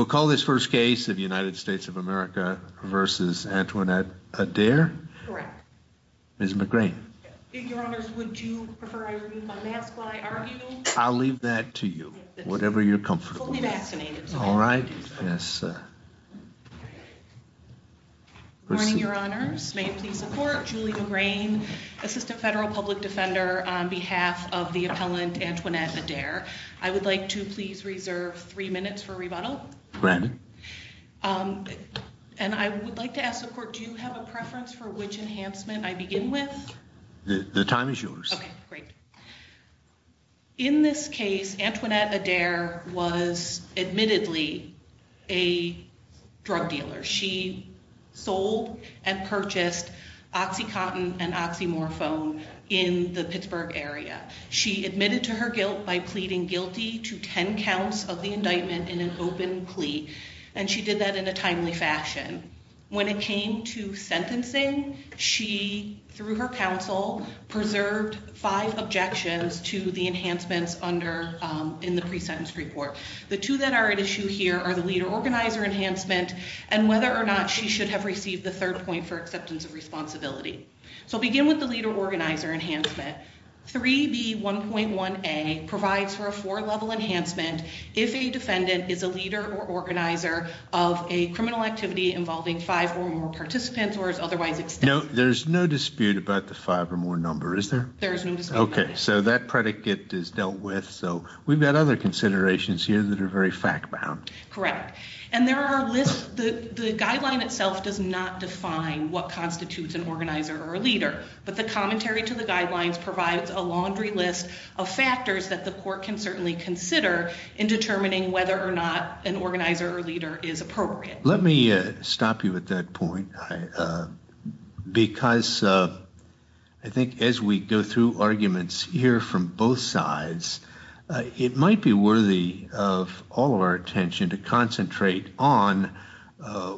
We'll call this first case of United States of America v. Antoinette Adair. Correct. Ms. McGrain. Your Honors, would you prefer I remove my mask while I argue? I'll leave that to you, whatever you're comfortable with. We'll be vaccinated. All right. Yes, sir. Good morning, Your Honors. May I please support Julie McGrain, Assistant Federal Public Defender, on behalf of the appellant Antoinette Adair. I would like to please reserve three minutes for rebuttal. Granted. And I would like to ask the court, do you have a preference for which enhancement I begin with? The time is yours. Okay, great. In this case, Antoinette Adair was admittedly a drug dealer. She sold and purchased Oxycontin and oxymorphone in the Pittsburgh area. She admitted to her guilt by pleading guilty to 10 counts of the indictment in an open plea. And she did that in a timely fashion. When it came to sentencing, she, through her counsel, preserved five objections to the enhancements under in the pre-sentence report. The two that are at issue here are the leader organizer enhancement and whether or not she should have received the third point for acceptance of responsibility. So begin with the leader organizer enhancement. 3B1.1A provides for a four-level enhancement if a defendant is a leader or organizer of a criminal activity involving five or more participants or is otherwise extended. There's no dispute about the five or more number, is there? There is no dispute about that. Okay, so that predicate is dealt with, so we've got other considerations here that are very fact-bound. Correct. And there are lists, the guideline itself does not define what constitutes an organizer or a leader. But the commentary to the guidelines provides a laundry list of factors that the court can certainly consider in determining whether or not an organizer or leader is appropriate. Let me stop you at that point because I think as we go through arguments here from both sides, it might be worthy of all of our attention to concentrate on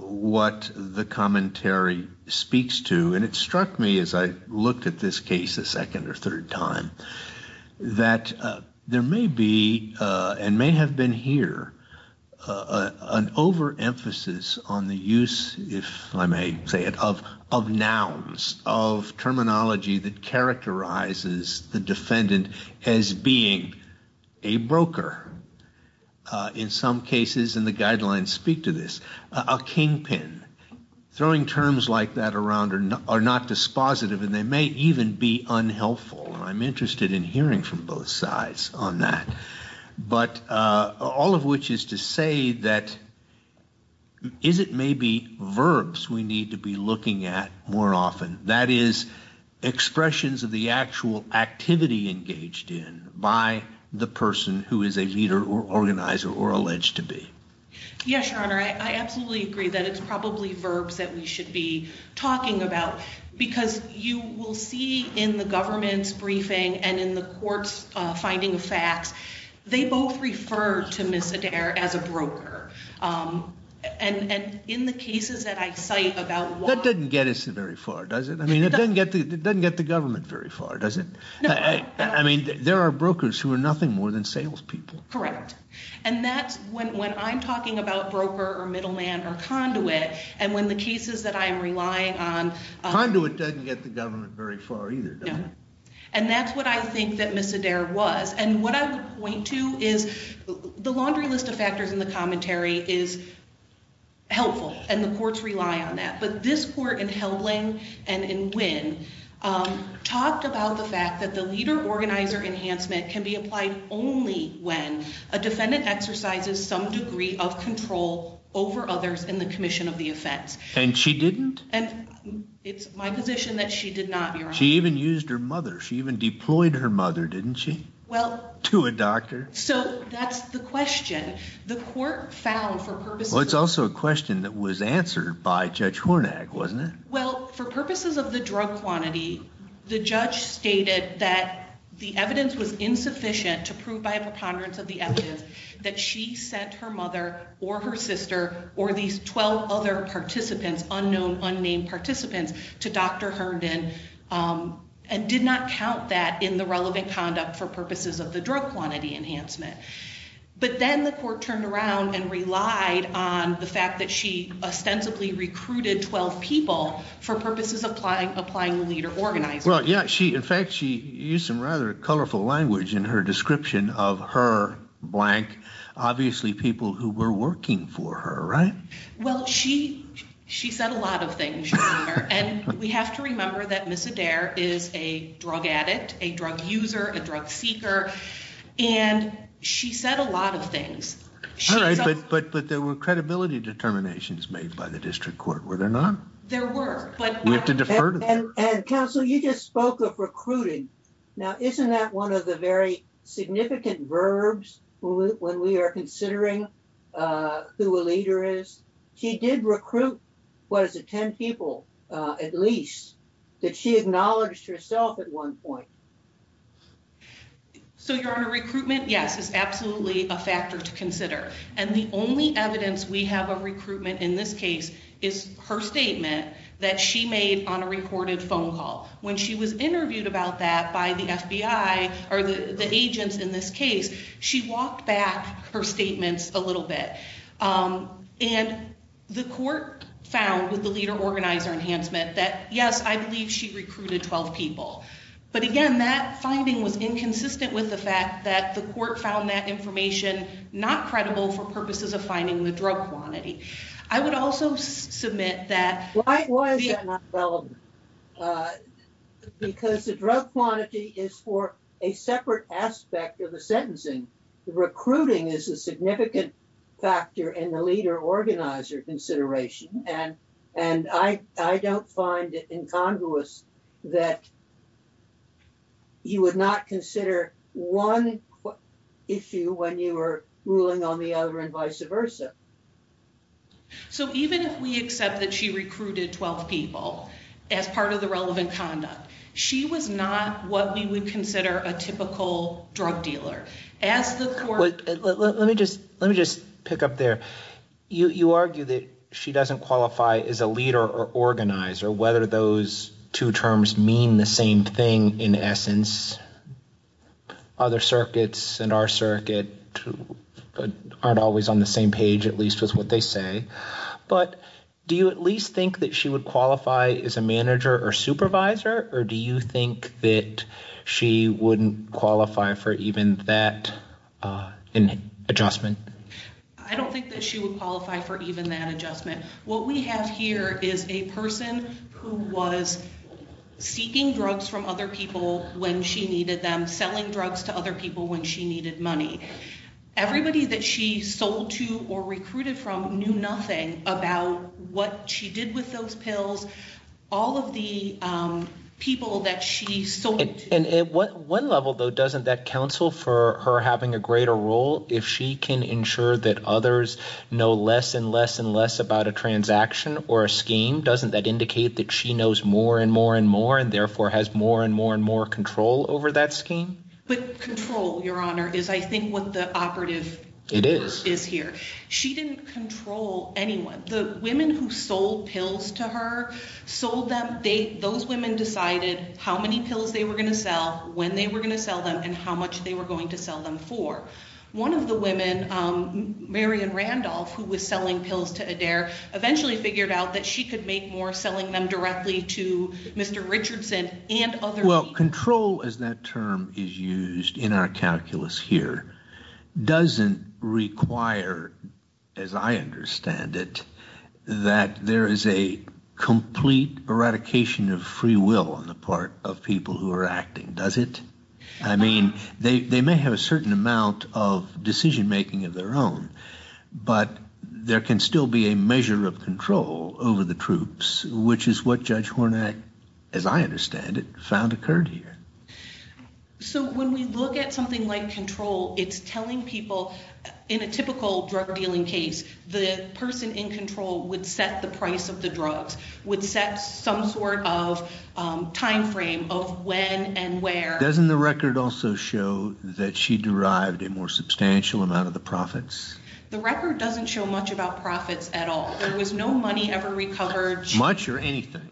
what the commentary speaks to. And it struck me as I looked at this case a second or third time that there may be and may have been here an overemphasis on the use, if I may say it, of nouns, of terminology that characterizes the defendant as being a broker. In some cases, and the guidelines speak to this, a kingpin. Throwing terms like that around are not dispositive and they may even be unhelpful. I'm interested in hearing from both sides on that. But all of which is to say that is it maybe verbs we need to be looking at more often? That is, expressions of the actual activity engaged in by the person who is a leader or organizer or alleged to be. Yes, Your Honor. I absolutely agree that it's probably verbs that we should be talking about. Because you will see in the government's briefing and in the court's finding of facts, they both refer to Ms. Adair as a broker. And in the cases that I cite about why... That doesn't get us very far, does it? I mean, it doesn't get the government very far, does it? I mean, there are brokers who are nothing more than salespeople. Correct. And that's when I'm talking about broker or middleman or conduit, and when the cases that I am relying on... Conduit doesn't get the government very far either, does it? And that's what I think that Ms. Adair was. And what I would point to is the laundry list of factors in the commentary is helpful and the courts rely on that. But this court in Helbling and in Winn talked about the fact that the leader-organizer enhancement can be applied only when a defendant exercises some degree of control over others in the commission of the offense. And she didn't? It's my position that she did not, Your Honor. She even used her mother. She even deployed her mother, didn't she? To a doctor. So that's the question. The court found for purposes... It's also a question that was answered by Judge Hornag, wasn't it? Well, for purposes of the drug quantity, the judge stated that the evidence was insufficient to prove by a preponderance of the evidence that she sent her mother or her sister or these 12 other participants, unknown, unnamed participants, to Dr. Herndon and did not count that in the relevant conduct for purposes of the drug quantity enhancement. But then the court turned around and relied on the fact that she ostensibly recruited 12 people for purposes of applying the leader-organizer. Well, yeah. In fact, she used some rather colorful language in her description of her blank, obviously, people who were working for her, right? Well, she said a lot of things, Your Honor, and we have to remember that Ms. Adair is a drug addict, a drug user, a drug seeker, and she said a lot of things. All right. But there were credibility determinations made by the district court, were there not? There were. We have to defer to them. And, counsel, you just spoke of recruiting. Now, isn't that one of the very significant verbs when we are considering who a leader is? She did recruit, what is it, 10 people at least that she acknowledged herself at one point. So, Your Honor, recruitment, yes, is absolutely a factor to consider. And the only evidence we have of recruitment in this case is her statement that she made on a recorded phone call. When she was interviewed about that by the FBI, or the agents in this case, she walked back her statements a little bit. And the court found with the leader-organizer enhancement that, yes, I believe she recruited 12 people. But, again, that finding was inconsistent with the fact that the court found that information not credible for purposes of finding the drug quantity. I would also submit that... Why is that not relevant? Because the drug quantity is for a separate aspect of the sentencing. Recruiting is a significant factor in the leader-organizer consideration. And I don't find it incongruous that you would not consider one issue when you were ruling on the other and vice versa. So even if we accept that she recruited 12 people as part of the relevant conduct, she was not what we would consider a typical drug dealer. As the court... Let me just pick up there. You argue that she doesn't qualify as a leader or organizer, whether those two terms mean the same thing in essence. Other circuits and our circuit aren't always on the same page, at least with what they say. But do you at least think that she would qualify as a manager or supervisor, or do you think that she wouldn't qualify for even that adjustment? I don't think that she would qualify for even that adjustment. What we have here is a person who was seeking drugs from other people when she needed them, selling drugs to other people when she needed money. Everybody that she sold to or recruited from knew nothing about what she did with those pills. All of the people that she sold... One level though, doesn't that counsel for her having a greater role if she can ensure that others know less and less and less about a transaction or a scheme? Doesn't that indicate that she knows more and more and more and therefore has more and more and more control over that scheme? But control, your honor, is I think what the operative is here. She didn't control anyone. The women who sold pills to her, those women decided how many pills they were going to sell, when they were going to sell them, and how much they were going to sell them for. One of the women, Marian Randolph, who was selling pills to Adair, eventually figured out that she could make more selling them directly to Mr. Richardson and other people. Control as that term is used in our calculus here doesn't require, as I understand it, that there is a complete eradication of free will on the part of people who are acting, does it? I mean, they may have a certain amount of decision making of their own, but there can still be a measure of control over the troops, which is what Judge Hornak, as I understand it, found occurred here. So when we look at something like control, it's telling people in a typical drug dealing case, the person in control would set the price of the drugs, would set some sort of time frame of when and where. Doesn't the record also show that she derived a more substantial amount of the profits? The record doesn't show much about profits at all. There was no money ever recovered. Much or anything?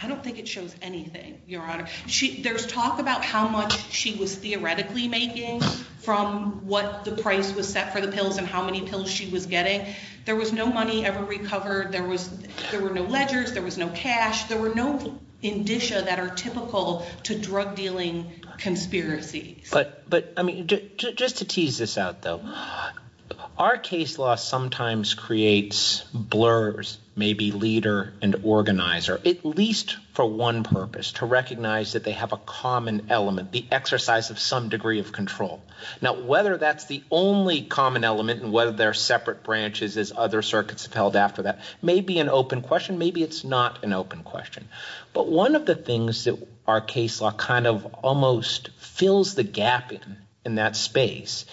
I don't think it shows anything, your honor. There's talk about how much she was theoretically making from what the price was set for the how many pills she was getting. There was no money ever recovered. There were no ledgers. There was no cash. There were no indicia that are typical to drug dealing conspiracies. But just to tease this out, though, our case law sometimes creates blurs, maybe leader and organizer, at least for one purpose, to recognize that they have a common element, the exercise of some degree of control. Now, whether that's the only common element and whether there are separate branches as other circuits have held after that may be an open question. Maybe it's not an open question. But one of the things that our case law kind of almost fills the gap in that space,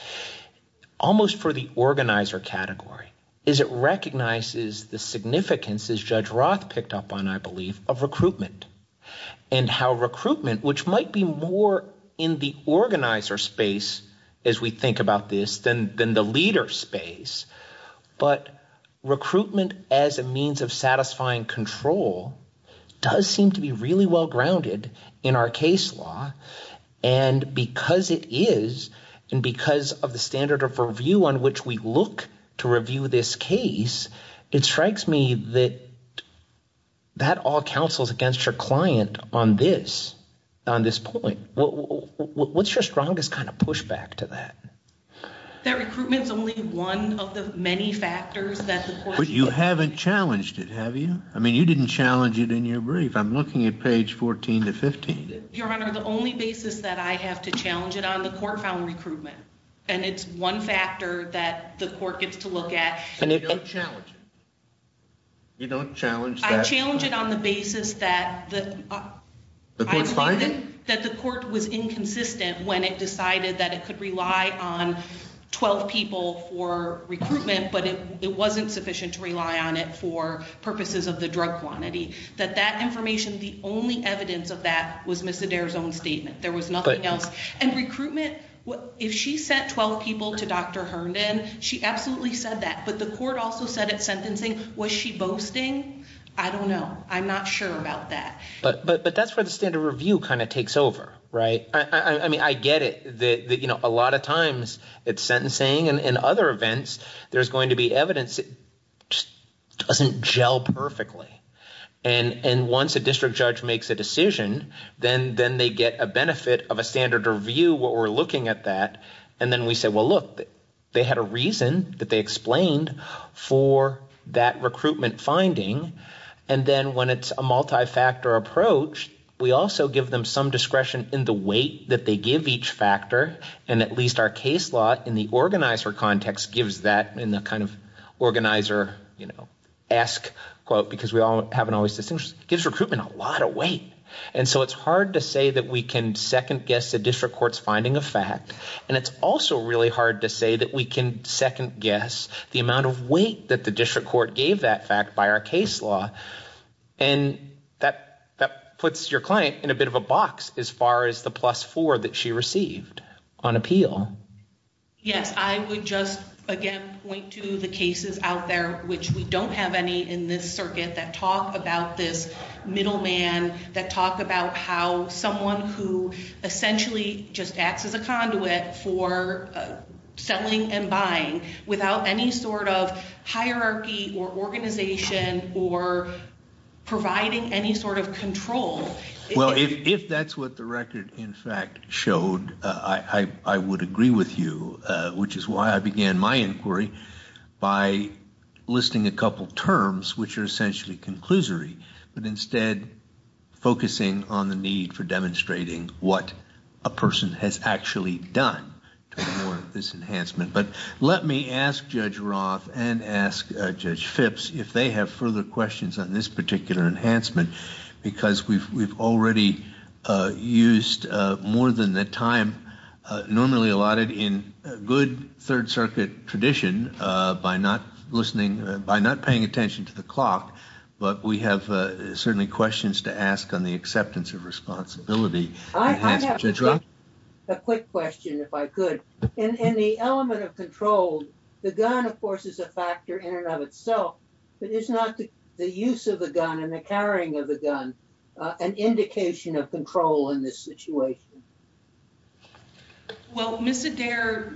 almost for the organizer category, is it recognizes the significance, as Judge Roth picked up on, I believe, of recruitment. And how recruitment, which might be more in the organizer space as we think about this than than the leader space, but recruitment as a means of satisfying control does seem to be really well grounded in our case law. And because it is and because of the standard of review on which we look to review this case, it strikes me that that all counsels against your client on this, on this point. What's your strongest kind of pushback to that? That recruitment is only one of the many factors that you haven't challenged it, have you? I mean, you didn't challenge it in your brief. I'm looking at page 14 to 15. Your Honor, the only basis that I have to challenge it on the court found recruitment. And it's one factor that the court gets to look at. And if you don't challenge it, you don't challenge that. I challenge it on the basis that the court was inconsistent when it decided that it could rely on 12 people for recruitment, but it wasn't sufficient to rely on it for purposes of the drug quantity, that that information, the only evidence of that was Miss Adair's own statement. There was nothing else. And recruitment, if she sent 12 people to Dr. Herndon, she absolutely said that. But the court also said at sentencing, was she boasting? I don't know. I'm not sure about that. But that's where the standard review kind of takes over, right? I mean, I get it that, you know, a lot of times it's sentencing. And in other events, there's going to be evidence that doesn't gel perfectly. And once a district judge makes a decision, then they get a benefit of a standard review where we're looking at that. And then we say, well, look, they had a reason that they explained for that recruitment finding. And then when it's a multi-factor approach, we also give them some discretion in the weight that they give each factor. And at least our case law in the organizer context gives that in the kind of organizer, you know, ask, quote, because we haven't always distinguished, gives recruitment a lot of weight. And so it's hard to say that we can second guess a district court's finding of fact. And it's also really hard to say that we can second guess the amount of weight that the district court gave that fact by our case law. And that puts your client in a bit of a box as far as the plus four that she received on appeal. Yes, I would just again point to the cases out there, which we don't have any in this circuit that talk about this middleman, that talk about how someone who essentially just acts as a conduit for selling and buying without any sort of hierarchy or organization or providing any sort of control. Well, if that's what the record, in fact, showed, I would agree with you, which is why I began my inquiry by listing a couple of terms which are essentially conclusory, but a person has actually done more of this enhancement. But let me ask Judge Roth and ask Judge Phipps if they have further questions on this particular enhancement, because we've already used more than the time normally allotted in good Third Circuit tradition by not listening, by not paying attention to the clock. But we have certainly questions to ask on the acceptance of responsibility. I have a quick question, if I could, in the element of control. The gun, of course, is a factor in and of itself, but it's not the use of the gun and the carrying of the gun, an indication of control in this situation. Well, Miss Adair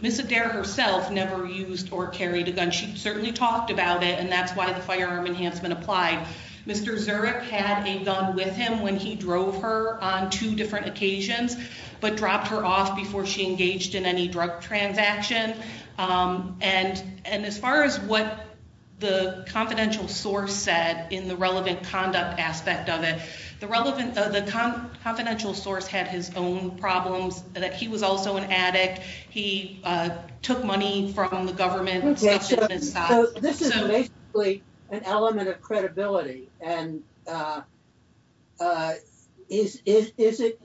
herself never used or carried a gun. She certainly talked about it, and that's why the firearm enhancement applied. Mr. Zurich had a gun with him when he drove her on two different occasions, but dropped her off before she engaged in any drug transaction. And as far as what the confidential source said in the relevant conduct aspect of it, the confidential source had his own problems, that he was also an addict. He took money from the government. So this is basically an element of credibility. And is it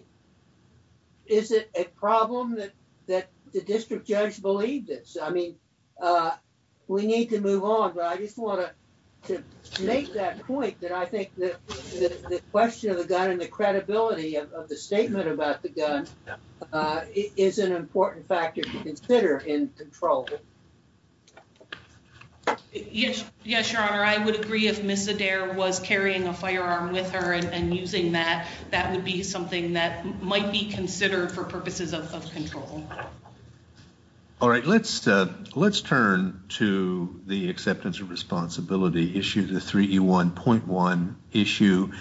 a problem that the district judge believed this? I mean, we need to move on. But I just want to make that point that I think that the question of the gun and the credibility of the statement about the gun is an important factor to consider in control. Yes, Your Honor, I would agree if Miss Adair was carrying a firearm with her and using that, that would be something that might be considered for purposes of control. All right, let's let's turn to the acceptance of responsibility issue, the 3E1.1 issue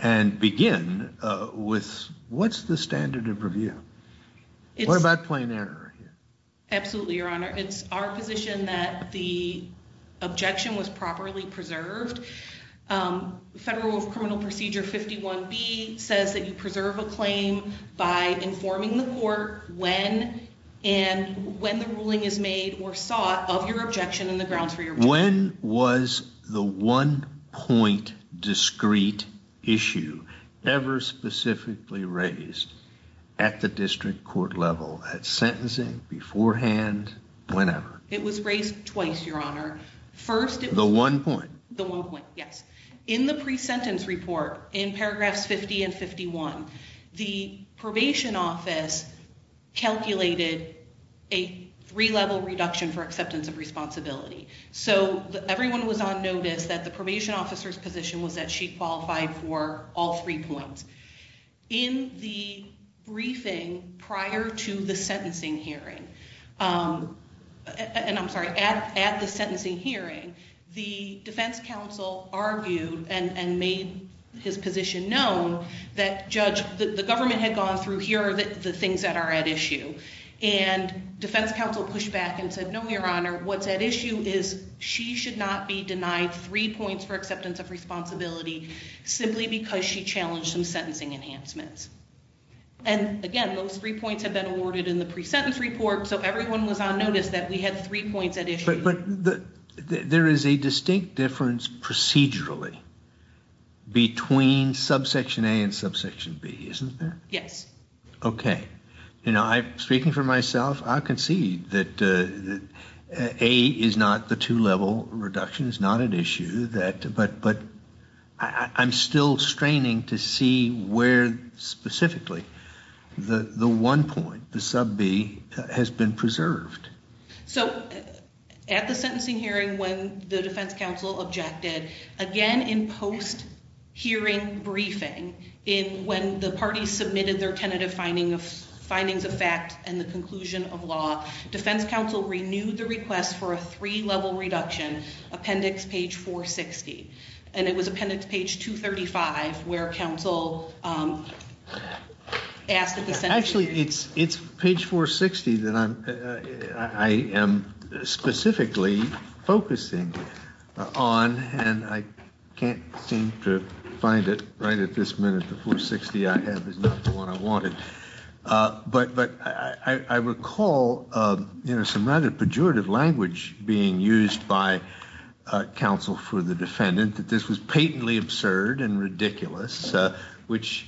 and begin with what's the standard of review? What about plain error? Absolutely, Your Honor, it's our position that the objection was properly preserved. Federal Criminal Procedure 51B says that you preserve a claim by informing the court when and when the ruling is made or sought of your objection and the grounds for your When was the one point discrete issue ever specifically raised at the district court level, at sentencing, beforehand, whenever? It was raised twice, Your Honor. First, the one point, the one point. Yes. In the pre-sentence report in paragraphs 50 and 51, the probation office calculated a three level reduction for acceptance of responsibility. So everyone was on notice that the probation officer's position was that she qualified for all three points. In the briefing prior to the sentencing hearing, and I'm sorry, at the sentencing hearing, the defense counsel argued and made his position known that Judge, the government had gone through, here are the things that are at issue and defense counsel pushed back and said, no, Your Honor, what's at issue is she should not be denied three points for acceptance of responsibility simply because she challenged some sentencing enhancements. And again, those three points have been awarded in the pre-sentence report. So everyone was on notice that we had three points at issue. But there is a distinct difference procedurally between subsection A and subsection B, isn't there? Yes. OK. You know, speaking for myself, I can see that A is not the two level reduction is not an issue, but I'm still straining to see where specifically the one point, the sub B, has been preserved. So at the sentencing hearing, when the defense counsel objected, again, in post hearing briefing, in when the parties submitted their tentative finding of findings of fact and the conclusion of law, defense counsel renewed the request for a three level reduction, appendix page 460. And it was appendix page 235 where counsel asked at the sentencing hearing. Actually, it's it's page 460 that I am specifically focusing on and I can't seem to right at this minute, the 460 I have is not the one I wanted. But but I recall some rather pejorative language being used by counsel for the defendant that this was patently absurd and ridiculous, which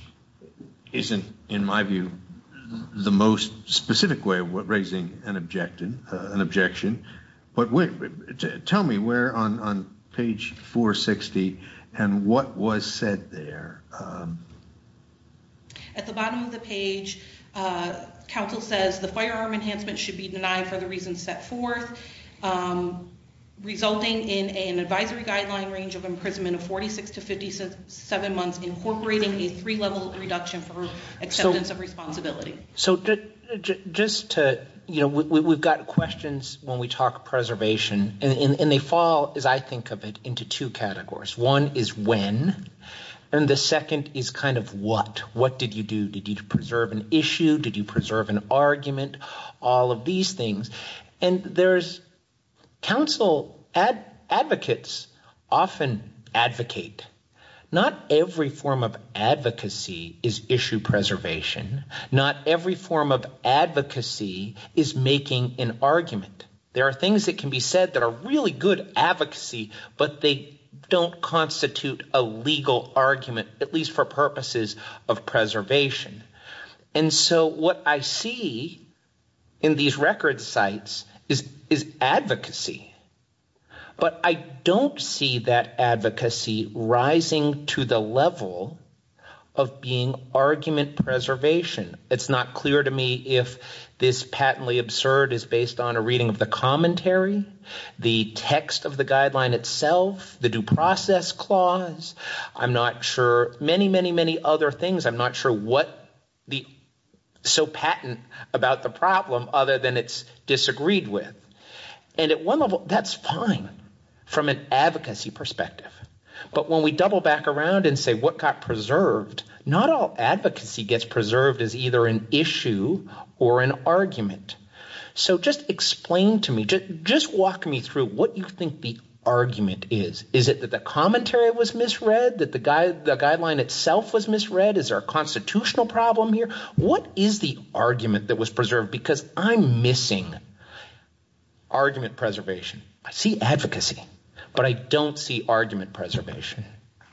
isn't, in my view, the most specific way of raising an objection. But tell me where on page 460 and what was said there. At the bottom of the page, counsel says the firearm enhancement should be denied for the reasons set forth, resulting in an advisory guideline range of imprisonment of 46 to 57 months, incorporating a three level reduction for acceptance of questions when we talk preservation. And they fall, as I think of it, into two categories. One is when and the second is kind of what what did you do? Did you preserve an issue? Did you preserve an argument? All of these things. And there's counsel advocates often advocate. Not every form of advocacy is issue preservation. Not every form of advocacy is making an argument. There are things that can be said that are really good advocacy, but they don't constitute a legal argument, at least for purposes of preservation. And so what I see in these record sites is is advocacy, but I don't see that advocacy rising to the level of being argument preservation. It's not clear to me if this patently absurd is based on a reading of the commentary, the text of the guideline itself, the due process clause. I'm not sure. Many, many, many other things. I'm not sure what the so patent about the problem other than it's disagreed with. And at one level, that's fine from an advocacy perspective. But when we double back around and say what got preserved, not all advocacy gets preserved as either an issue or an argument. So just explain to me, just walk me through what you think the argument is. Is it that the commentary was misread, that the guideline itself was misread? Is there a constitutional problem here? What is the argument that was preserved? Because I'm missing argument preservation. I see advocacy, but I don't see argument preservation.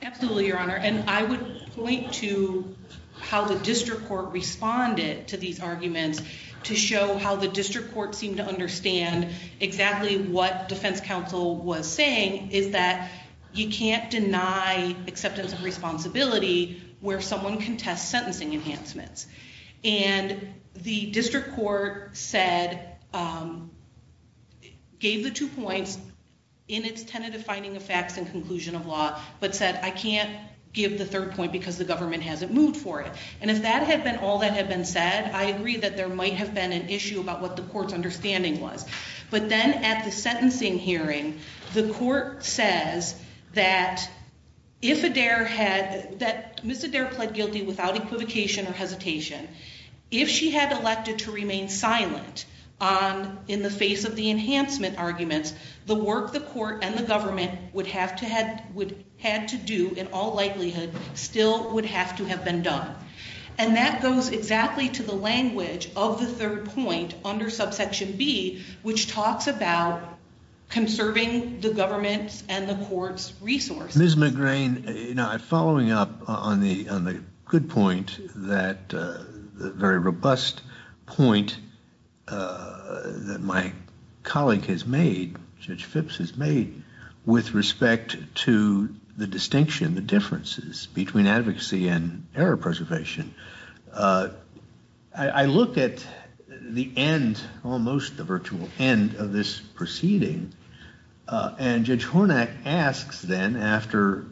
Absolutely, Your Honor, and I would point to how the district court responded to these arguments to show how the district court seemed to understand exactly what defense counsel was saying, is that you can't deny acceptance of responsibility where someone contests sentencing enhancements. And the district court said, gave the two points in its tentative finding of facts and conclusion of law, but said, I can't give the third point because the government hasn't moved for it. And if that had been all that had been said, I agree that there might have been an issue about what the court's understanding was. But then at the sentencing hearing, the court says that if Adair had, that Ms. McGrane, if she had elected to remain silent on, in the face of the enhancement arguments, the work the court and the government would have to had, would had to do in all likelihood, still would have to have been done. And that goes exactly to the language of the third point under subsection B, which talks about conserving the government's and the court's resource. Ms. McGrane, you know, following up on the good point, that very robust point that my colleague has made, Judge Phipps has made, with respect to the distinction, the differences between advocacy and error preservation, I look at the end, almost the virtual end of this proceeding. And Judge Hornak asks then after,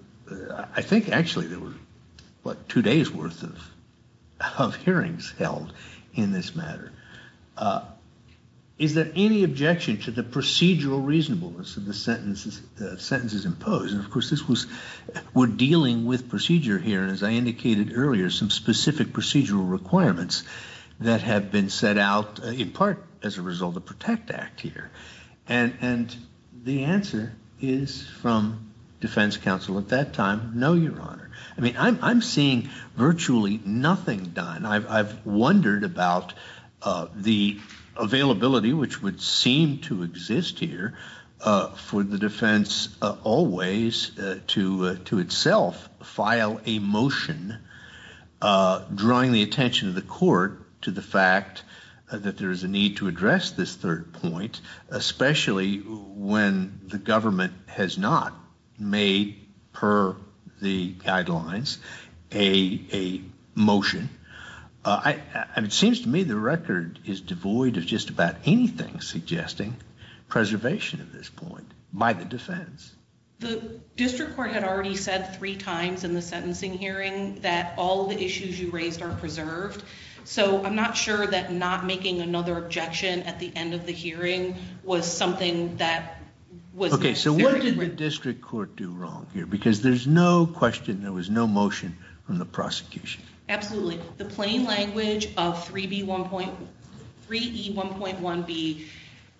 I think actually there were, what, two days worth of hearings held in this matter. Is there any objection to the procedural reasonableness of the sentences imposed? And of course, this was, we're dealing with procedure here. And as I indicated earlier, some specific procedural requirements that have been set out in part as a result of Protect Act here. And the answer is from defense counsel at that time, no, Your Honor. I mean, I'm seeing virtually nothing done. I've wondered about the availability, which would seem to exist here, for the defense always to itself file a motion drawing the attention of the court to the case, especially when the government has not made, per the guidelines, a motion. It seems to me the record is devoid of just about anything suggesting preservation at this point by the defense. The district court had already said three times in the sentencing hearing that all of the issues you raised are preserved. So I'm not sure that not making another objection at the end of the hearing was something that was... Okay. So what did the district court do wrong here? Because there's no question, there was no motion from the prosecution. Absolutely. The plain language of 3E1.1B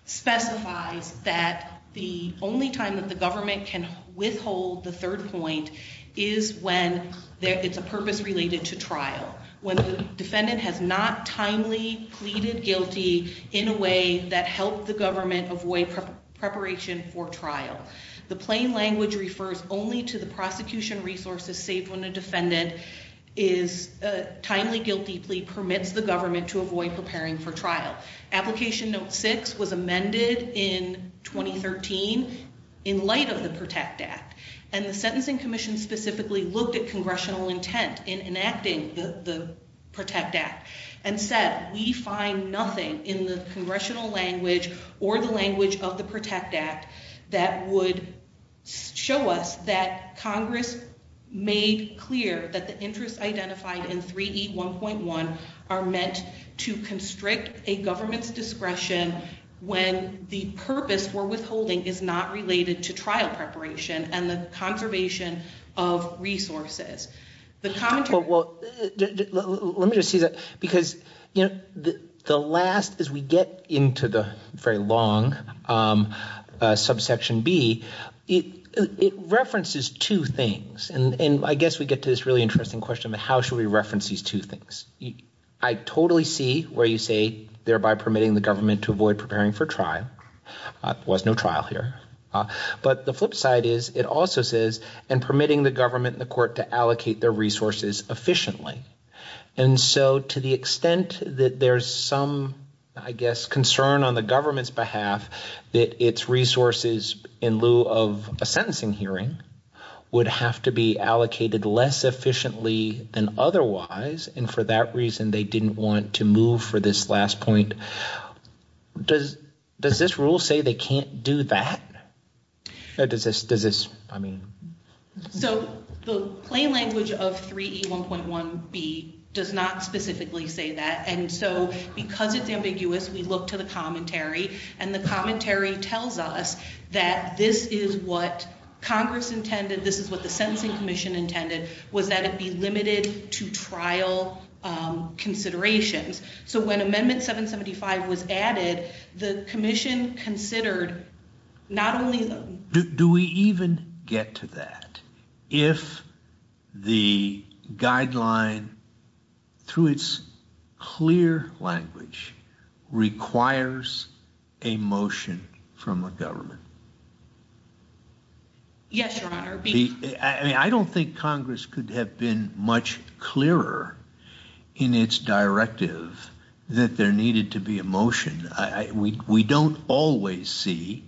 specifies that the only time that the government can withhold the third point is when it's a purpose related to trial. When the defendant has not timely pleaded guilty in a way that helped the government avoid preparation for trial. The plain language refers only to the prosecution resources saved when a defendant is a timely guilty plea permits the government to avoid preparing for trial. Application note six was amended in 2013 in light of the Protect Act. And the sentencing commission specifically looked at congressional intent in enacting the Protect Act and said, we find nothing in the congressional language or the language of the Protect Act that would show us that Congress made clear that the interests identified in 3E1.1 are meant to constrict a government's discretion when the purpose for withholding is not related to trial preparation and the conservation of resources. Well, let me just say that because, you know, the last, as we get into the very long subsection B, it references two things. And I guess we get to this really interesting question of how should we reference these two things? I totally see where you say, thereby permitting the government to avoid preparing for trial. There was no trial here. But the flip side is, it also says, and permitting the government and the court to allocate their resources efficiently. And so to the extent that there's some, I guess, concern on the government's behalf that its resources, in lieu of a sentencing hearing, would have to be allocated less efficiently than otherwise. And for that reason, they didn't want to move for this last point. Does this rule say they can't do that? Or does this, I mean... So the plain language of 3E1.1B does not specifically say that. And so because it's ambiguous, we look to the commentary and the commentary tells us that this is what Congress intended, this is what the sentencing commission intended, was that it be limited to trial considerations. So when amendment 775 was added, the commission considered not only... Do we even get to that? If the guideline, through its clear language, requires a motion from a government, I mean, I don't think Congress could have been much clearer in its directive that there needed to be a motion. We don't always see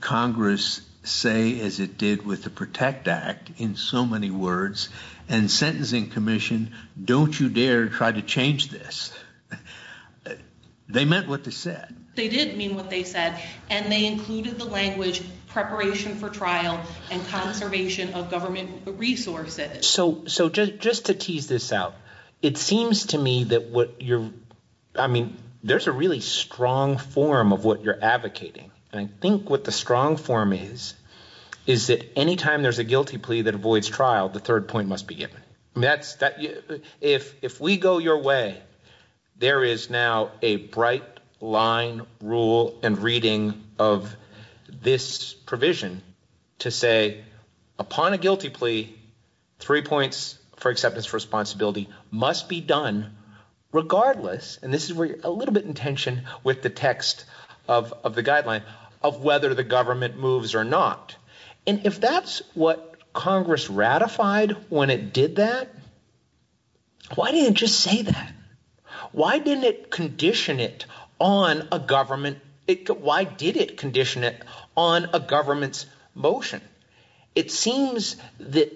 Congress say as it did with the PROTECT Act, in so many words, and sentencing commission, don't you dare try to change this. They meant what they said. They did mean what they said, and they included the language, preparation for trial and conservation of government resources. So just to tease this out, it seems to me that what you're, I mean, there's a really strong form of what you're advocating, and I think what the strong form is, is that anytime there's a guilty plea that avoids trial, the third point must be given. I mean, if we go your way, there is now a bright line rule and reading of this provision to say, upon a guilty plea, three points for acceptance for responsibility must be done regardless. And this is where you're a little bit in tension with the text of the guideline of whether the government moves or not. And if that's what Congress ratified when it did that, why didn't it just say that? Why didn't it condition it on a government? Why did it condition it on a government's motion? It seems that,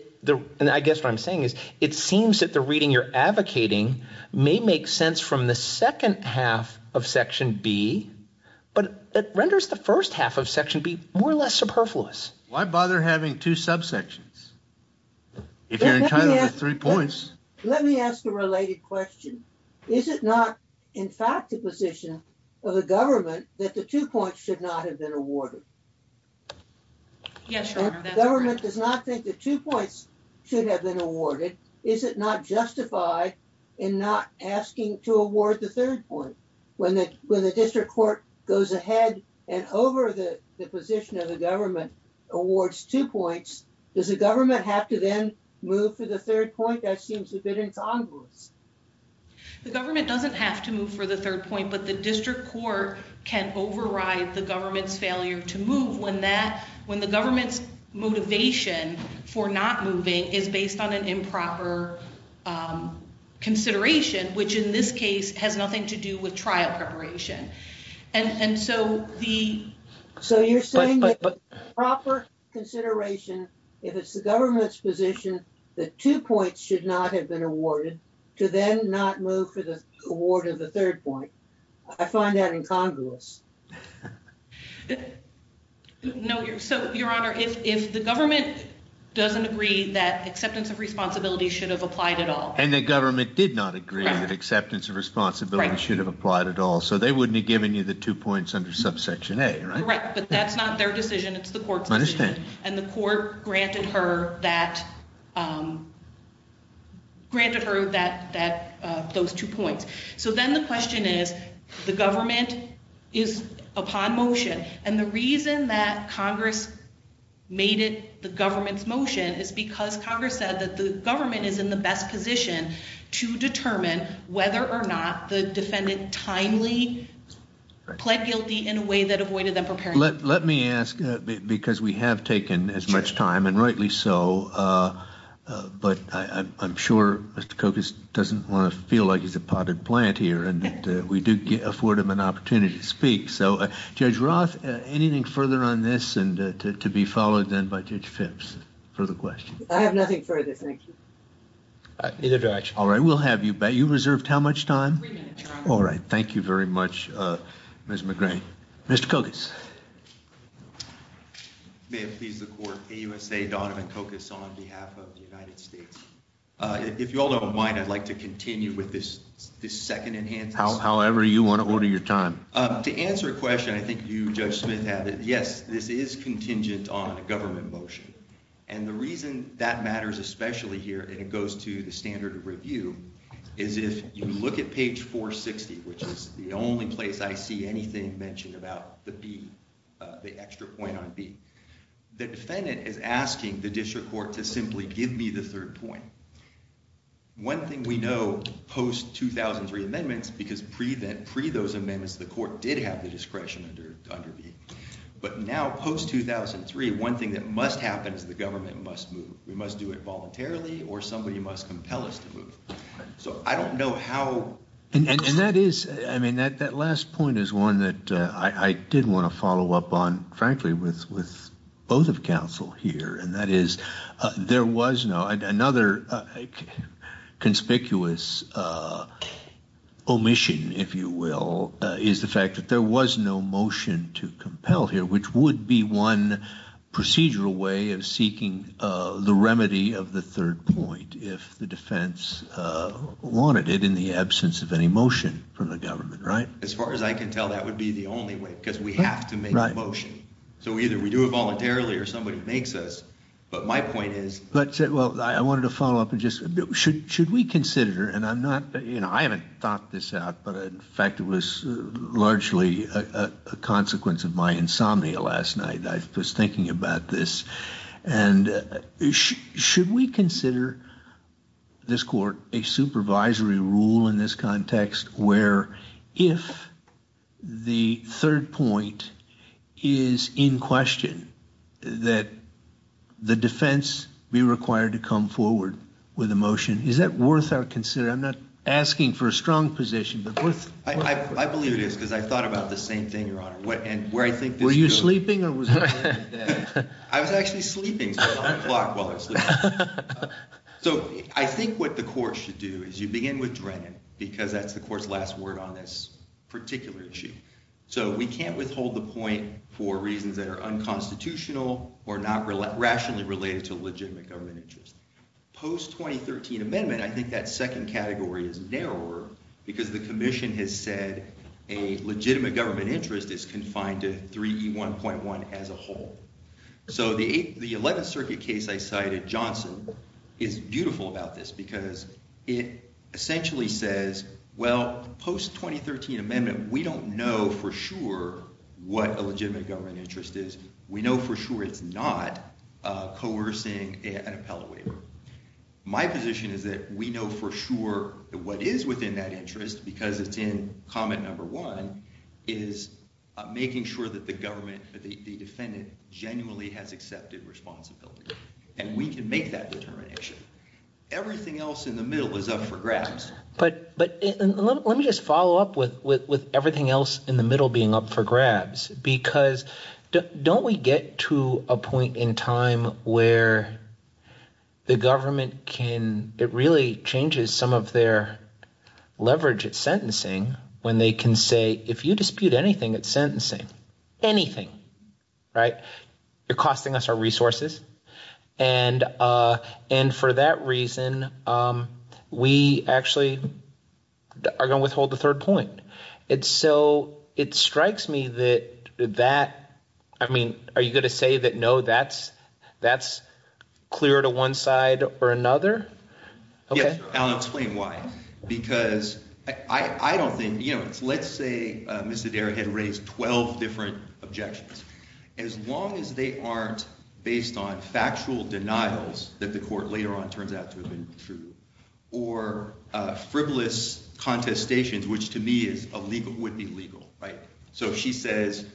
and I guess what I'm saying is, it seems that the reading you're advocating may make sense from the second half of section B, but it renders the first half of section B more or less superfluous. Why bother having two subsections if you're entitled to three points? Let me ask a related question. Is it not, in fact, the position of the government that the two points should not have been awarded? Yes, Your Honor. The government does not think the two points should have been awarded. Is it not justified in not asking to award the third point when the district court goes ahead and over the position of the government awards two points? Does the government have to then move for the third point? That seems a bit incongruous. The government doesn't have to move for the third point, but the district court can override the government's failure to move when the government's for not moving is based on an improper, um, consideration, which in this case has nothing to do with trial preparation. And so the, so you're saying proper consideration, if it's the government's position, the two points should not have been awarded to then not move for the award of the third point. I find that incongruous. No, you're so Your Honor. If, if the government doesn't agree that acceptance of responsibility should have applied at all. And the government did not agree that acceptance of responsibility should have applied at all. So they wouldn't have given you the two points under subsection A, right? Right. But that's not their decision. It's the court's decision and the court granted her that, um, granted her that, that, uh, those two points. So then the question is the government is upon motion and the reason that Congress made it the government's motion is because Congress said that the government is in the best position to determine whether or not the defendant timely pled guilty in a way that avoided them preparing. Let, let me ask because we have taken as much time and rightly so. Uh, uh, but I, I'm sure Mr. Kokos doesn't want to feel like he's a potted plant here and that we do afford him an opportunity to speak. So, uh, Judge Roth, uh, anything further on this and, uh, to, to be followed then by Judge Phipps for the question, I have nothing for this. Thank you. Uh, either direction. All right. We'll have you back. You reserved how much time? All right. Thank you very much. Uh, Ms. McGray, Mr. Kokos. May it please the court, AUSA Donovan Kokos on behalf of the United States. Uh, if you all don't mind, I'd like to continue with this, this second enhance, however you want to order your time. Um, to answer a question, I think you, Judge Smith have it. Yes, this is contingent on a government motion. And the reason that matters, especially here, and it goes to the standard of review is if you look at page 460, which is the only place I see anything mentioned about the B, uh, the extra point on B, the defendant is asking the district court to simply give me the third point, one thing we know post 2003 amendments, because prevent pre those amendments, the court did have the discretion under, under B, but now post 2003, one thing that must happen is the government must move. We must do it voluntarily or somebody must compel us to move. So I don't know how. And that is, I mean, that, that last point is one that, uh, I did want to follow up on frankly with, with both of counsel here, and that is, uh, there was no, another, uh, conspicuous, uh, omission, if you will, uh, is the fact that there was no motion to compel here, which would be one procedural way of seeking, uh, the remedy of the third point if the defense, uh, wanted it in the absence of any motion from the government, right? As far as I can tell, that would be the only way because we have to make a motion. So either we do it voluntarily or somebody makes us, but my point is, but well, I wanted to follow up and just should, should we consider, and I'm not, you know, I haven't thought this out, but in fact, it was largely a, a consequence of my insomnia last night. I was thinking about this and should we consider this court a supervisory rule in this context where if the third point is in question that the defense be required to come forward with a motion? Is that worth our consideration? I'm not asking for a strong position, but worth... I, I, I believe it is because I thought about the same thing, Your Honor. What, and where I think... Were you sleeping or was... I was actually sleeping, so I was on the clock while I was sleeping. So I think what the court should do is you begin with Drennan because that's the court's last word on this particular issue. So we can't withhold the point for reasons that are unconstitutional or not rationally related to legitimate government interest. Post-2013 amendment, I think that second category is narrower because the commission has said a legitimate government interest is confined to 3E1.1 as a whole. So the eighth, the 11th circuit case I cited, Johnson, is beautiful about this because it essentially says, well, post-2013 amendment, we don't know for sure what a legitimate government interest is. We know for sure it's not coercing an appellate waiver. My position is that we know for sure that what is within that interest, because it's in comment number one, is making sure that the government, that the government genuinely has accepted responsibility, and we can make that determination. Everything else in the middle is up for grabs. But let me just follow up with everything else in the middle being up for grabs, because don't we get to a point in time where the government can, it really changes some of their leverage at sentencing when they can say, if you are costing us our resources, and for that reason, we actually are going to withhold the third point. And so it strikes me that, I mean, are you going to say that, no, that's clear to one side or another? Yes, and I'll explain why, because I don't think, you know, let's say Mr. Williams, they aren't based on factual denials that the court later on turns out to have been true, or frivolous contestations, which to me would be legal, right? So if she says,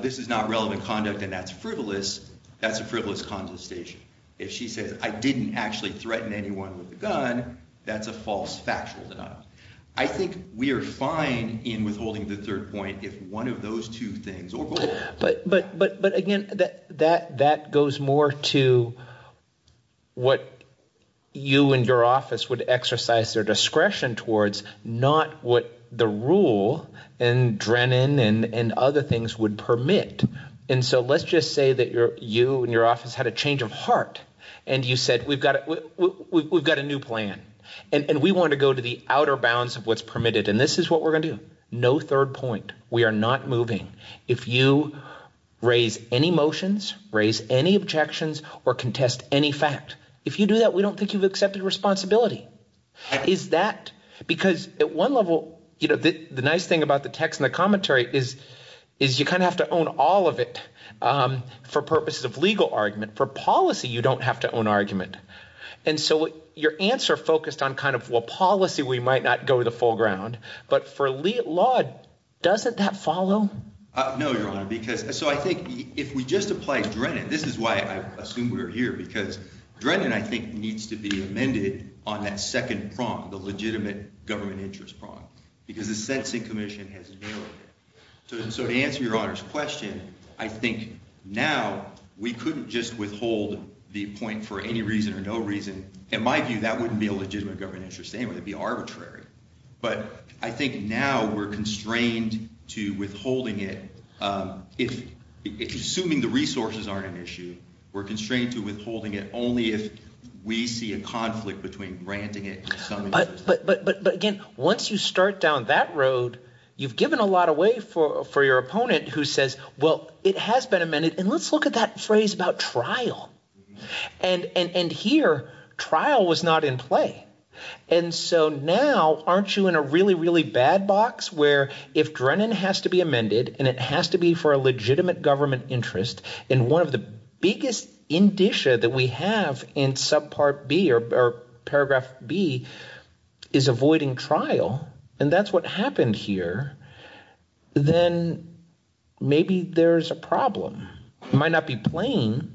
this is not relevant conduct and that's frivolous, that's a frivolous contestation. If she says, I didn't actually threaten anyone with a gun, that's a false factual denial. I think we are fine in withholding the third point if one of those two things, or both. But again, that goes more to what you and your office would exercise their discretion towards, not what the rule and Drennan and other things would permit. And so let's just say that you and your office had a change of heart, and you said, we've got a new plan, and we want to go to the outer bounds of what's permitted. And this is what we're going to do. No third point. We are not moving. If you raise any motions, raise any objections, or contest any fact, if you do that, we don't think you've accepted responsibility. Is that, because at one level, you know, the nice thing about the text and the commentary is, is you kind of have to own all of it for purposes of legal argument, for policy, you don't have to own argument. And so your answer focused on kind of, well, policy, we might not go to the No, your honor, because so I think if we just apply Drennan, this is why I assume we're here, because Drennan, I think needs to be amended on that second prompt, the legitimate government interest prompt, because the sentencing commission has narrowed it. So to answer your honor's question, I think now, we couldn't just withhold the point for any reason or no reason. In my view, that wouldn't be a legitimate government interest anyway, it'd be assuming the resources aren't an issue, we're constrained to withholding it only if we see a conflict between granting it, but, but, but, but, but again, once you start down that road, you've given a lot away for, for your opponent who says, well, it has been amended. And let's look at that phrase about trial and, and, and here trial was not in play. And so now aren't you in a really, really bad box where if Drennan has to be for a legitimate government interest, and one of the biggest indicia that we have in subpart B or paragraph B is avoiding trial, and that's what happened here. Then maybe there's a problem. It might not be plain.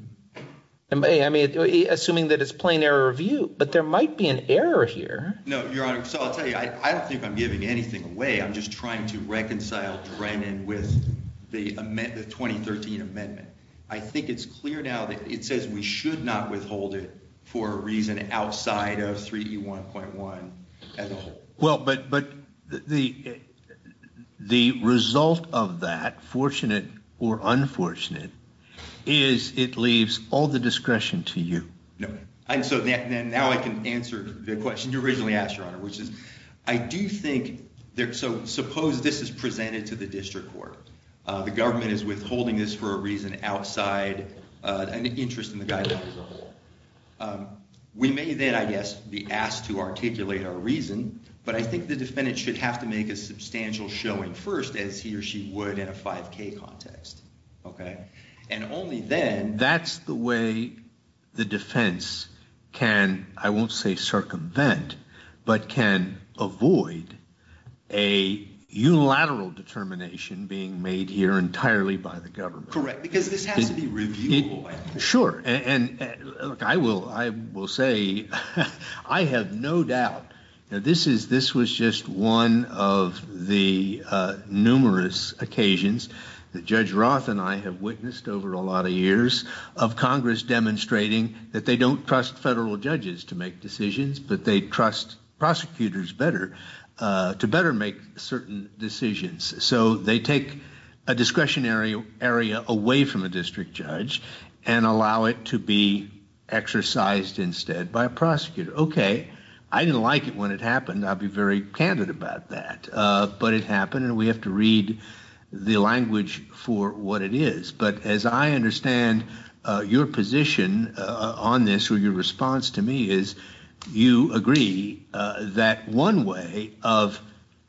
I mean, assuming that it's plain error review, but there might be an error here. No, your honor. So I'll tell you, I don't think I'm giving anything away. I'm just trying to reconcile Drennan with the amendment, the 2013 amendment. I think it's clear now that it says we should not withhold it for a reason outside of 3E1.1 as a whole. Well, but, but the, the result of that fortunate or unfortunate is it leaves all the discretion to you. And so now I can answer the question you originally asked your honor, which is, I suppose this is presented to the district court. The government is withholding this for a reason outside an interest in the guidance. We may then, I guess, be asked to articulate our reason, but I think the defendant should have to make a substantial showing first as he or she would in a 5K context. Okay. And only then. That's the way the defense can, I won't say circumvent, but can avoid a unilateral determination being made here entirely by the government. Correct. Because this has to be reviewable. Sure. And look, I will, I will say I have no doubt that this is, this was just one of the numerous occasions that Judge Roth and I have witnessed over a lot of years of Congress demonstrating that they don't trust federal judges to make decisions, but they trust prosecutors better to better make certain decisions. So they take a discretionary area away from a district judge and allow it to be exercised instead by a prosecutor. Okay. I didn't like it when it happened. I'll be very candid about that. But it happened and we have to read the language for what it is. But as I understand your position on this or your response to me is you agree that one way of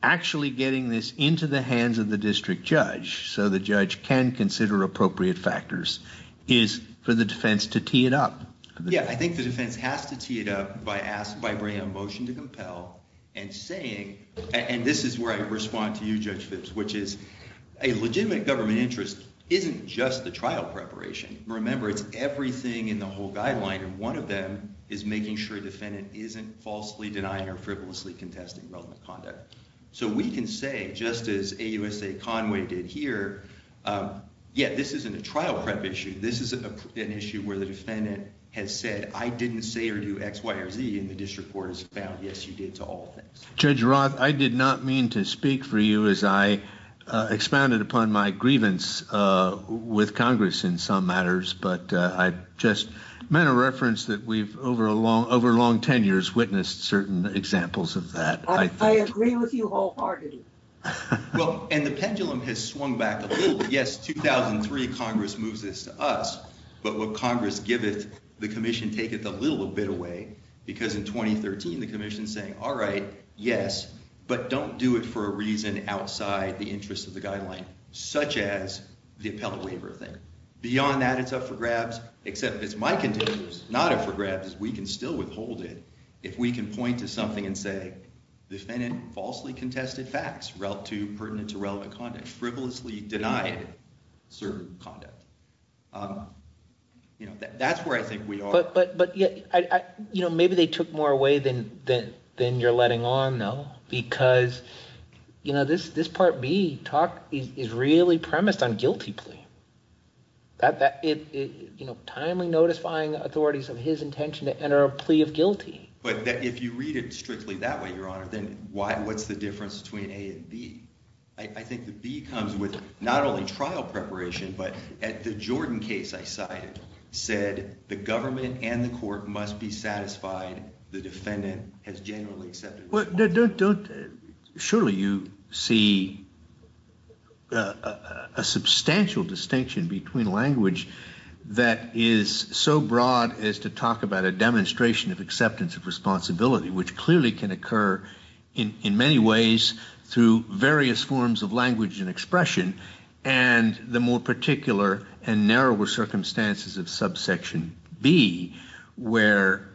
actually getting this into the hands of the district judge, so the judge can consider appropriate factors, is for the defense to tee it up. Yeah. I think the defense has to tee it up by asking, by bringing a motion to respond to you, Judge Phipps, which is a legitimate government interest isn't just the trial preparation. Remember, it's everything in the whole guideline and one of them is making sure the defendant isn't falsely denying or frivolously contesting relevant conduct. So we can say, just as AUSA Conway did here, yeah, this isn't a trial prep issue. This is an issue where the defendant has said, I didn't say or do X, Y, or Z, and the district court has found, yes, you did to all things. Judge Roth, I did not mean to speak for you as I expounded upon my grievance with Congress in some matters, but I just meant a reference that we've, over a long, over long tenures, witnessed certain examples of that. I agree with you wholeheartedly. Well, and the pendulum has swung back a little bit. Yes, 2003 Congress moves this to us, but what Congress giveth, the commission taketh a little bit away because in 2013 the commission's saying, all right, yes, but don't do it for a reason outside the interest of the guideline, such as the appellate waiver thing. Beyond that, it's up for grabs, except it's my contention, it's not up for grabs is we can still withhold it if we can point to something and say, the defendant falsely contested facts relative to, pertinent to relevant conduct, frivolously denied certain conduct. Um, you know, that, that's where I think we are. But, but, but yeah, I, I, you know, maybe they took more away than, than, than you're letting on though, because, you know, this, this Part B talk is, is really premised on guilty plea. That, that it, it, you know, timely notifying authorities of his intention to enter a plea of guilty. But if you read it strictly that way, Your Honor, then why, what's the difference between A and B? I think the B comes with not only trial preparation, but at the Jordan case I cited, said the government and the court must be satisfied the defendant has generally accepted the law. Well, don't, don't, surely you see a substantial distinction between language that is so broad as to talk about a demonstration of acceptance of responsibility, which clearly can occur in, in many ways through various forms of language and expression. And the more particular and narrower circumstances of subsection B, where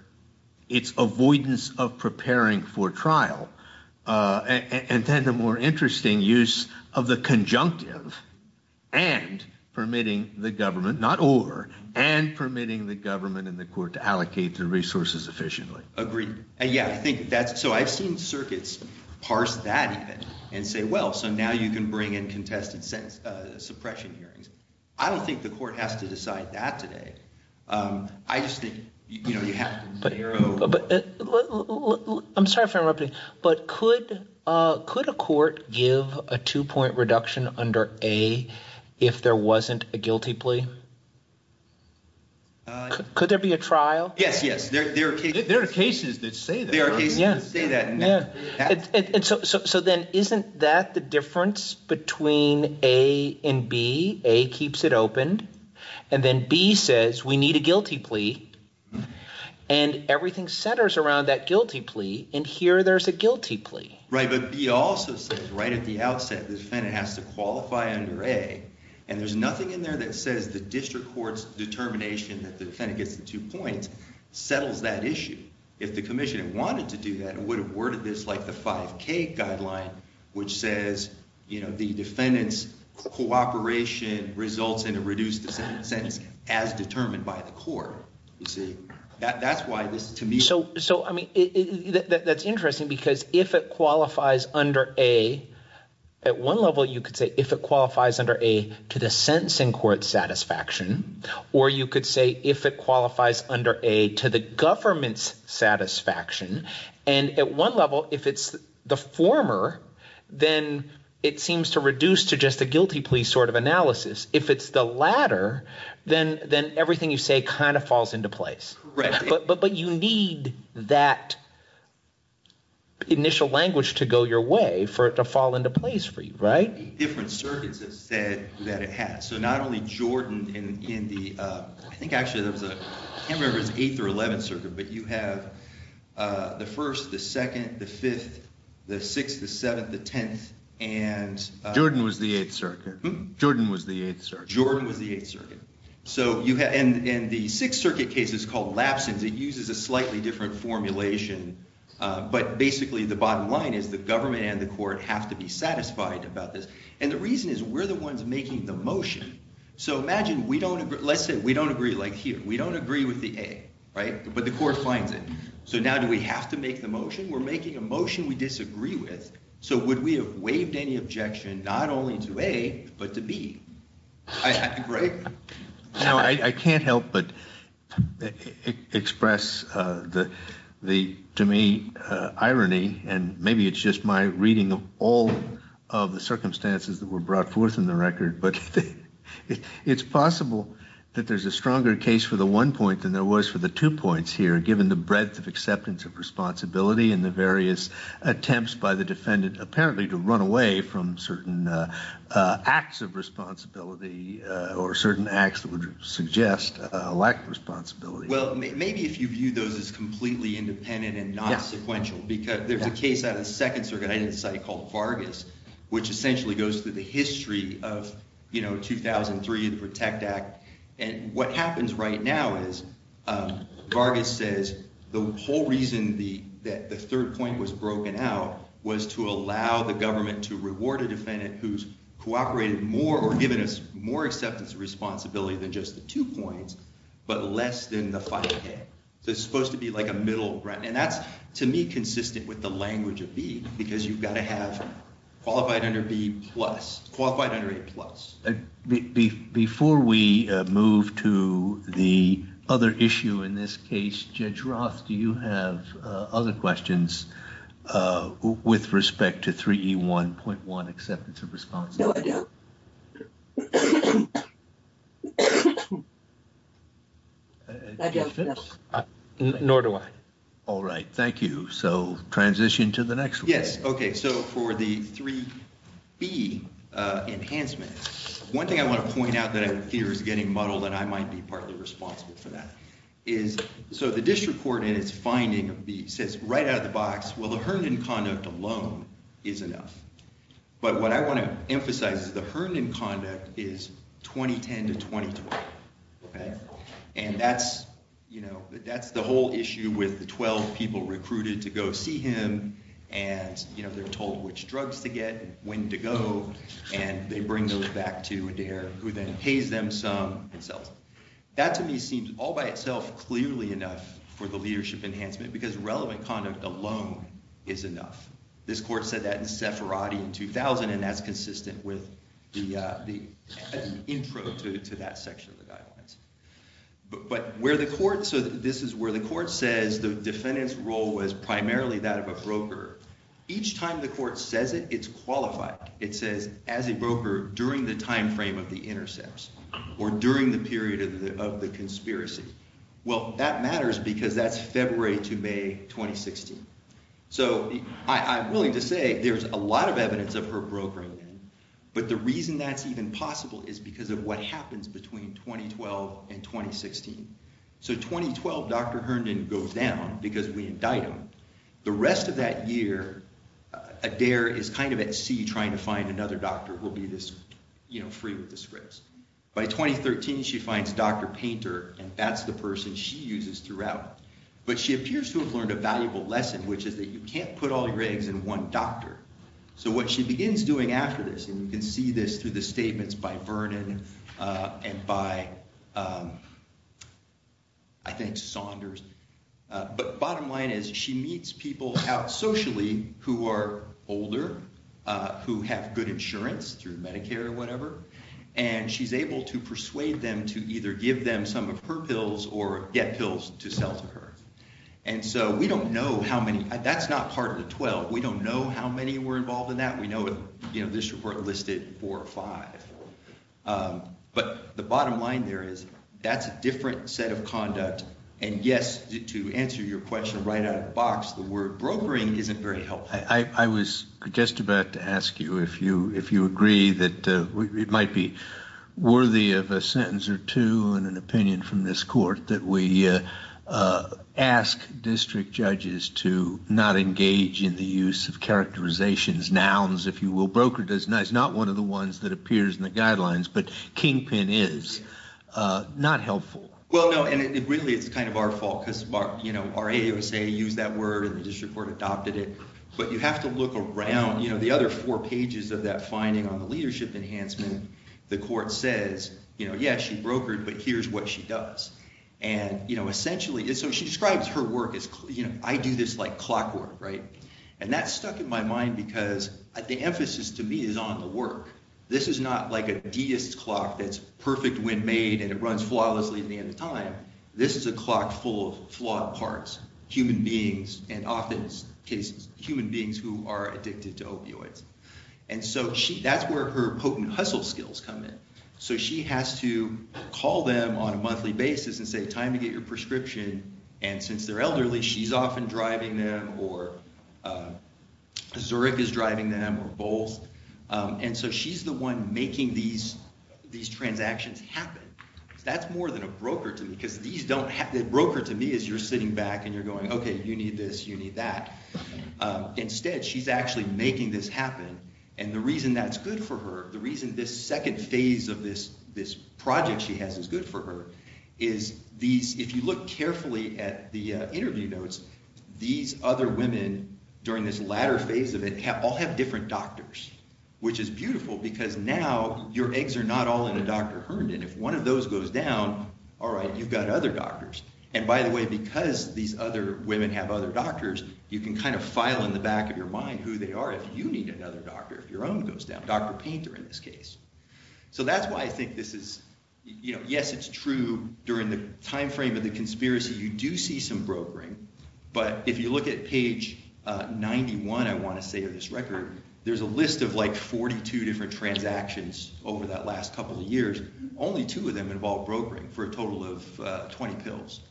it's avoidance of preparing for trial. And then the more interesting use of the conjunctive and permitting the government, not or, and permitting the government and the court to allocate the resources efficiently. Agreed. And yeah, I think that's, so I've seen circuits parse that even and say, well, so now you can bring in contested sentence, suppression hearings. I don't think the court has to decide that today. I just think, you know, you have to narrow. I'm sorry if I'm interrupting, but could, could a court give a two point reduction under A if there wasn't a guilty plea? Could there be a trial? Yes. Yes. There, there are cases that say that. There are cases that say that. Yeah. And so, so, so then isn't that the difference between A and B? A keeps it open and then B says, we need a guilty plea and everything centers around that guilty plea. And here there's a guilty plea. Right. But B also says right at the outset, the defendant has to qualify under A and there's nothing in there that says the district court's determination that the defendant gets the two points settles that issue. If the commission had wanted to do that and would have worded this like the cooperation results in a reduced sentence as determined by the court. You see that that's why this to me. So, so I mean, that's interesting because if it qualifies under A at one level, you could say if it qualifies under A to the sentencing court satisfaction, or you could say if it qualifies under A to the government's satisfaction and at one level, if it's the former, then it seems to reduce to just a guilty plea sort of analysis. If it's the latter, then, then everything you say kind of falls into place, but, but, but you need that initial language to go your way for it to fall into place for you. Right? Different circuits that said that it has. So not only Jordan and in the, I think actually there was a, I can't remember his eighth or 11th circuit, but you have, uh, the first, the second, the fifth, the sixth, the seventh, the 10th. And, uh, Jordan was the eighth circuit. Jordan was the eighth circuit. Jordan was the eighth circuit. So you had, and, and the sixth circuit case is called lapses. It uses a slightly different formulation. Uh, but basically the bottom line is the government and the court have to be satisfied about this. And the reason is we're the ones making the motion. So imagine we don't agree. Let's say we don't agree like here. We don't agree with the A, right? But the court finds it. So now do we have to make the motion? We're making a motion we disagree with. So would we have waived any objection? Not only to A, but to B, right? Now I can't help, but express, uh, the, the, to me, uh, irony. And maybe it's just my reading of all of the circumstances that were brought forth in the record. But it's possible that there's a stronger case for the one point than there was for the two points here, given the breadth of acceptance of responsibility and the various attempts by the defendant, apparently to run away from certain, uh, uh, acts of responsibility, uh, or certain acts that would suggest a lack of responsibility. Well, maybe if you view those as completely independent and not sequential, because there's a case out of the second circuit, I didn't cite called Vargas, which essentially goes through the history of, you know, 2003, the protect act. And what happens right now is, um, Vargas says the whole reason the, that the third point was broken out was to allow the government to reward a defendant who's cooperated more or given us more acceptance of responsibility than just the two points, but less than the five K. So it's supposed to be like a middle ground. And that's to me, consistent with the language of B because you've got to have qualified under B plus, qualified under A plus. Before we move to the other issue in this case, Judge Roth, do you have other questions, uh, with respect to 3E1.1 acceptance of responsibility? No, I don't. Nor do I. All right. Thank you. So transition to the next one. Yes. Okay. So for the 3B, uh, enhancement, one thing I want to point out that I fear is getting muddled and I might be partly responsible for that is, so the district court in its finding of B says right out of the box, well, the Herndon conduct alone is enough, but what I want to emphasize is the Herndon conduct is 2010 to 2012. Okay. And that's, you know, that's the whole issue with the 12 people recruited to go see him and, you know, they're told which drugs to get, when to go, and they bring those back to Adair who then pays them some and sells them. That to me seems all by itself, clearly enough for the leadership enhancement because relevant conduct alone is enough. This court said that in Sepharadi in 2000, and that's consistent with the, uh, the intro to that section of the guidelines. But where the court, so this is where the court says the defendant's role was primarily that of a broker. Each time the court says it, it's qualified. It says as a broker during the timeframe of the intercepts or during the period of the, of the conspiracy. Well, that matters because that's February to May, 2016. So I'm willing to say there's a lot of evidence of her brokering. But the reason that's even possible is because of what happens between 2012 and 2016. So 2012, Dr. Herndon goes down because we indict him. The rest of that year, Adair is kind of at sea trying to find another doctor who will be this, you know, free with the scripts. By 2013, she finds Dr. Painter and that's the person she uses throughout, but she appears to have learned a valuable lesson, which is that you can't put all your eggs in one doctor. So what she begins doing after this, and you can see this through the I think Saunders, but bottom line is she meets people out socially who are older, who have good insurance through Medicare or whatever, and she's able to persuade them to either give them some of her pills or get pills to sell to her. And so we don't know how many, that's not part of the 12. We don't know how many were involved in that. We know, you know, this report listed four or five. But the bottom line there is that's a different set of conduct. And yes, to answer your question right out of the box, the word brokering isn't very helpful. I was just about to ask you if you agree that it might be worthy of a sentence or two and an opinion from this court that we ask district judges to not engage in the use of characterizations, nouns, if you will. Brokered is not one of the ones that appears in the guidelines, but kingpin is not helpful. Well, no, and it really, it's kind of our fault because, you know, our AUSA used that word and the district court adopted it, but you have to look around, you know, the other four pages of that finding on the leadership enhancement, the court says, you know, yeah, she brokered, but here's what she does. And, you know, essentially, so she describes her work as, you know, I do this like clockwork, right? And that stuck in my mind because the emphasis to me is on the work. This is not like a deist clock that's perfect when made and it runs flawlessly at the end of time. This is a clock full of flawed parts, human beings, and often cases, human beings who are addicted to opioids. And so she, that's where her potent hustle skills come in. So she has to call them on a monthly basis and say, time to get your medication, Zurich is driving them or Bowles. And so she's the one making these, these transactions happen. That's more than a broker to me because these don't have, the broker to me is you're sitting back and you're going, okay, you need this, you need that. Instead, she's actually making this happen. And the reason that's good for her, the reason this second phase of this, this project she has is good for her, is these, if you look carefully at the during this latter phase of it, all have different doctors, which is beautiful because now your eggs are not all in a Dr. Herndon. If one of those goes down, all right, you've got other doctors. And by the way, because these other women have other doctors, you can kind of file in the back of your mind who they are. If you need another doctor, if your own goes down, Dr. Painter in this case. So that's why I think this is, you know, yes, it's true during the timeframe of the conspiracy, you do see some brokering. But if you look at page 91, I want to say of this record, there's a list of like 42 different transactions over that last couple of years, only two of them involve brokering for a total of 20 pills.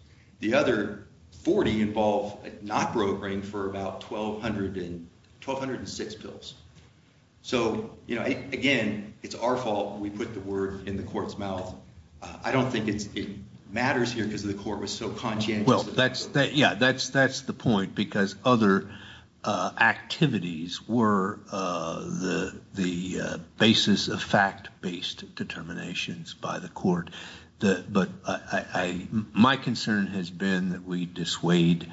The other 40 involve not brokering for about 1200 and 1206 pills. So, you know, again, it's our fault. We put the word in the court's mouth. I don't think it's, it matters here because of the court was so conscientious. Well, that's, yeah, that's the point because other activities were the basis of fact based determinations by the court. But I, my concern has been that we dissuade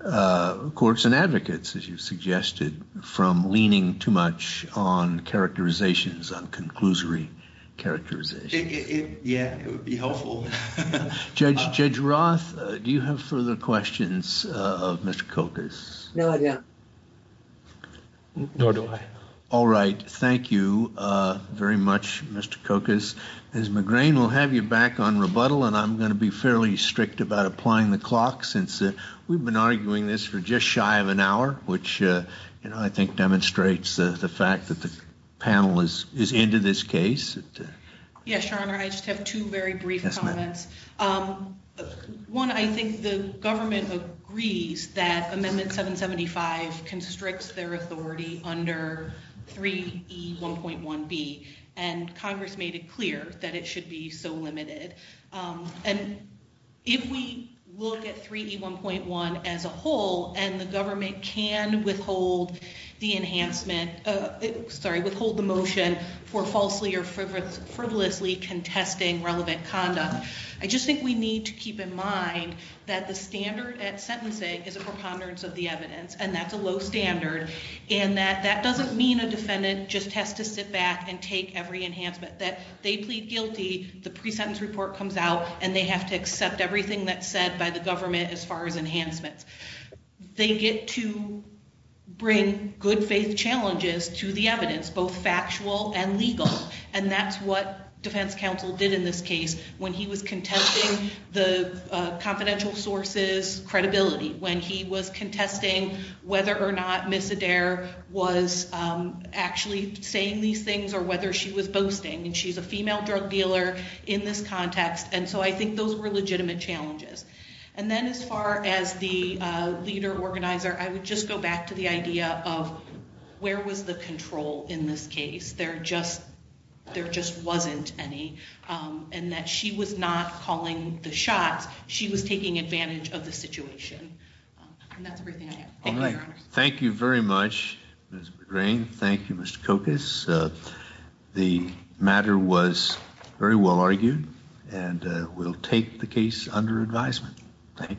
courts and advocates, as you've suggested, from leaning too much on characterizations, on conclusory characterizations. Yeah, it would be helpful. Judge, Judge Roth, do you have further questions of Mr. Kokos? No, I don't. Nor do I. All right. Thank you very much, Mr. Kokos. Ms. McGrain, we'll have you back on rebuttal, and I'm going to be fairly strict about applying the clock since we've been arguing this for just shy of an hour, which, you know, I think demonstrates the fact that the panel is into this case. Yes, Your Honor, I just have two very brief comments. One, I think the government agrees that Amendment 775 constricts their authority under 3E1.1B, and Congress made it clear that it should be so limited. And if we look at 3E1.1 as a whole and the government can withhold the motion for falsely or frivolously contesting relevant conduct, I just think we need to keep in mind that the standard at sentencing is a preponderance of the evidence, and that's a low standard, and that that doesn't mean a defendant just has to sit back and take every enhancement. That they plead guilty, the pre-sentence report comes out, and they have to accept everything that's said by the government as far as enhancements. They get to bring good faith challenges to the evidence, both factual and legal, and that's what defense counsel did in this case when he was contesting the confidential sources credibility, when he was contesting whether or not Ms. Adair was actually saying these things or whether she was boasting, and she's a female drug dealer in this context. And so I think those were legitimate challenges. And then as far as the leader organizer, I would just go back to the idea of where was the control in this case? There just wasn't any, and that she was not calling the shots, she was taking advantage of the situation. And that's everything I have. Thank you very much, Ms. McGrain. Thank you, Mr. Kokas. The matter was very well argued, and we'll take the case under advisement. Thank you.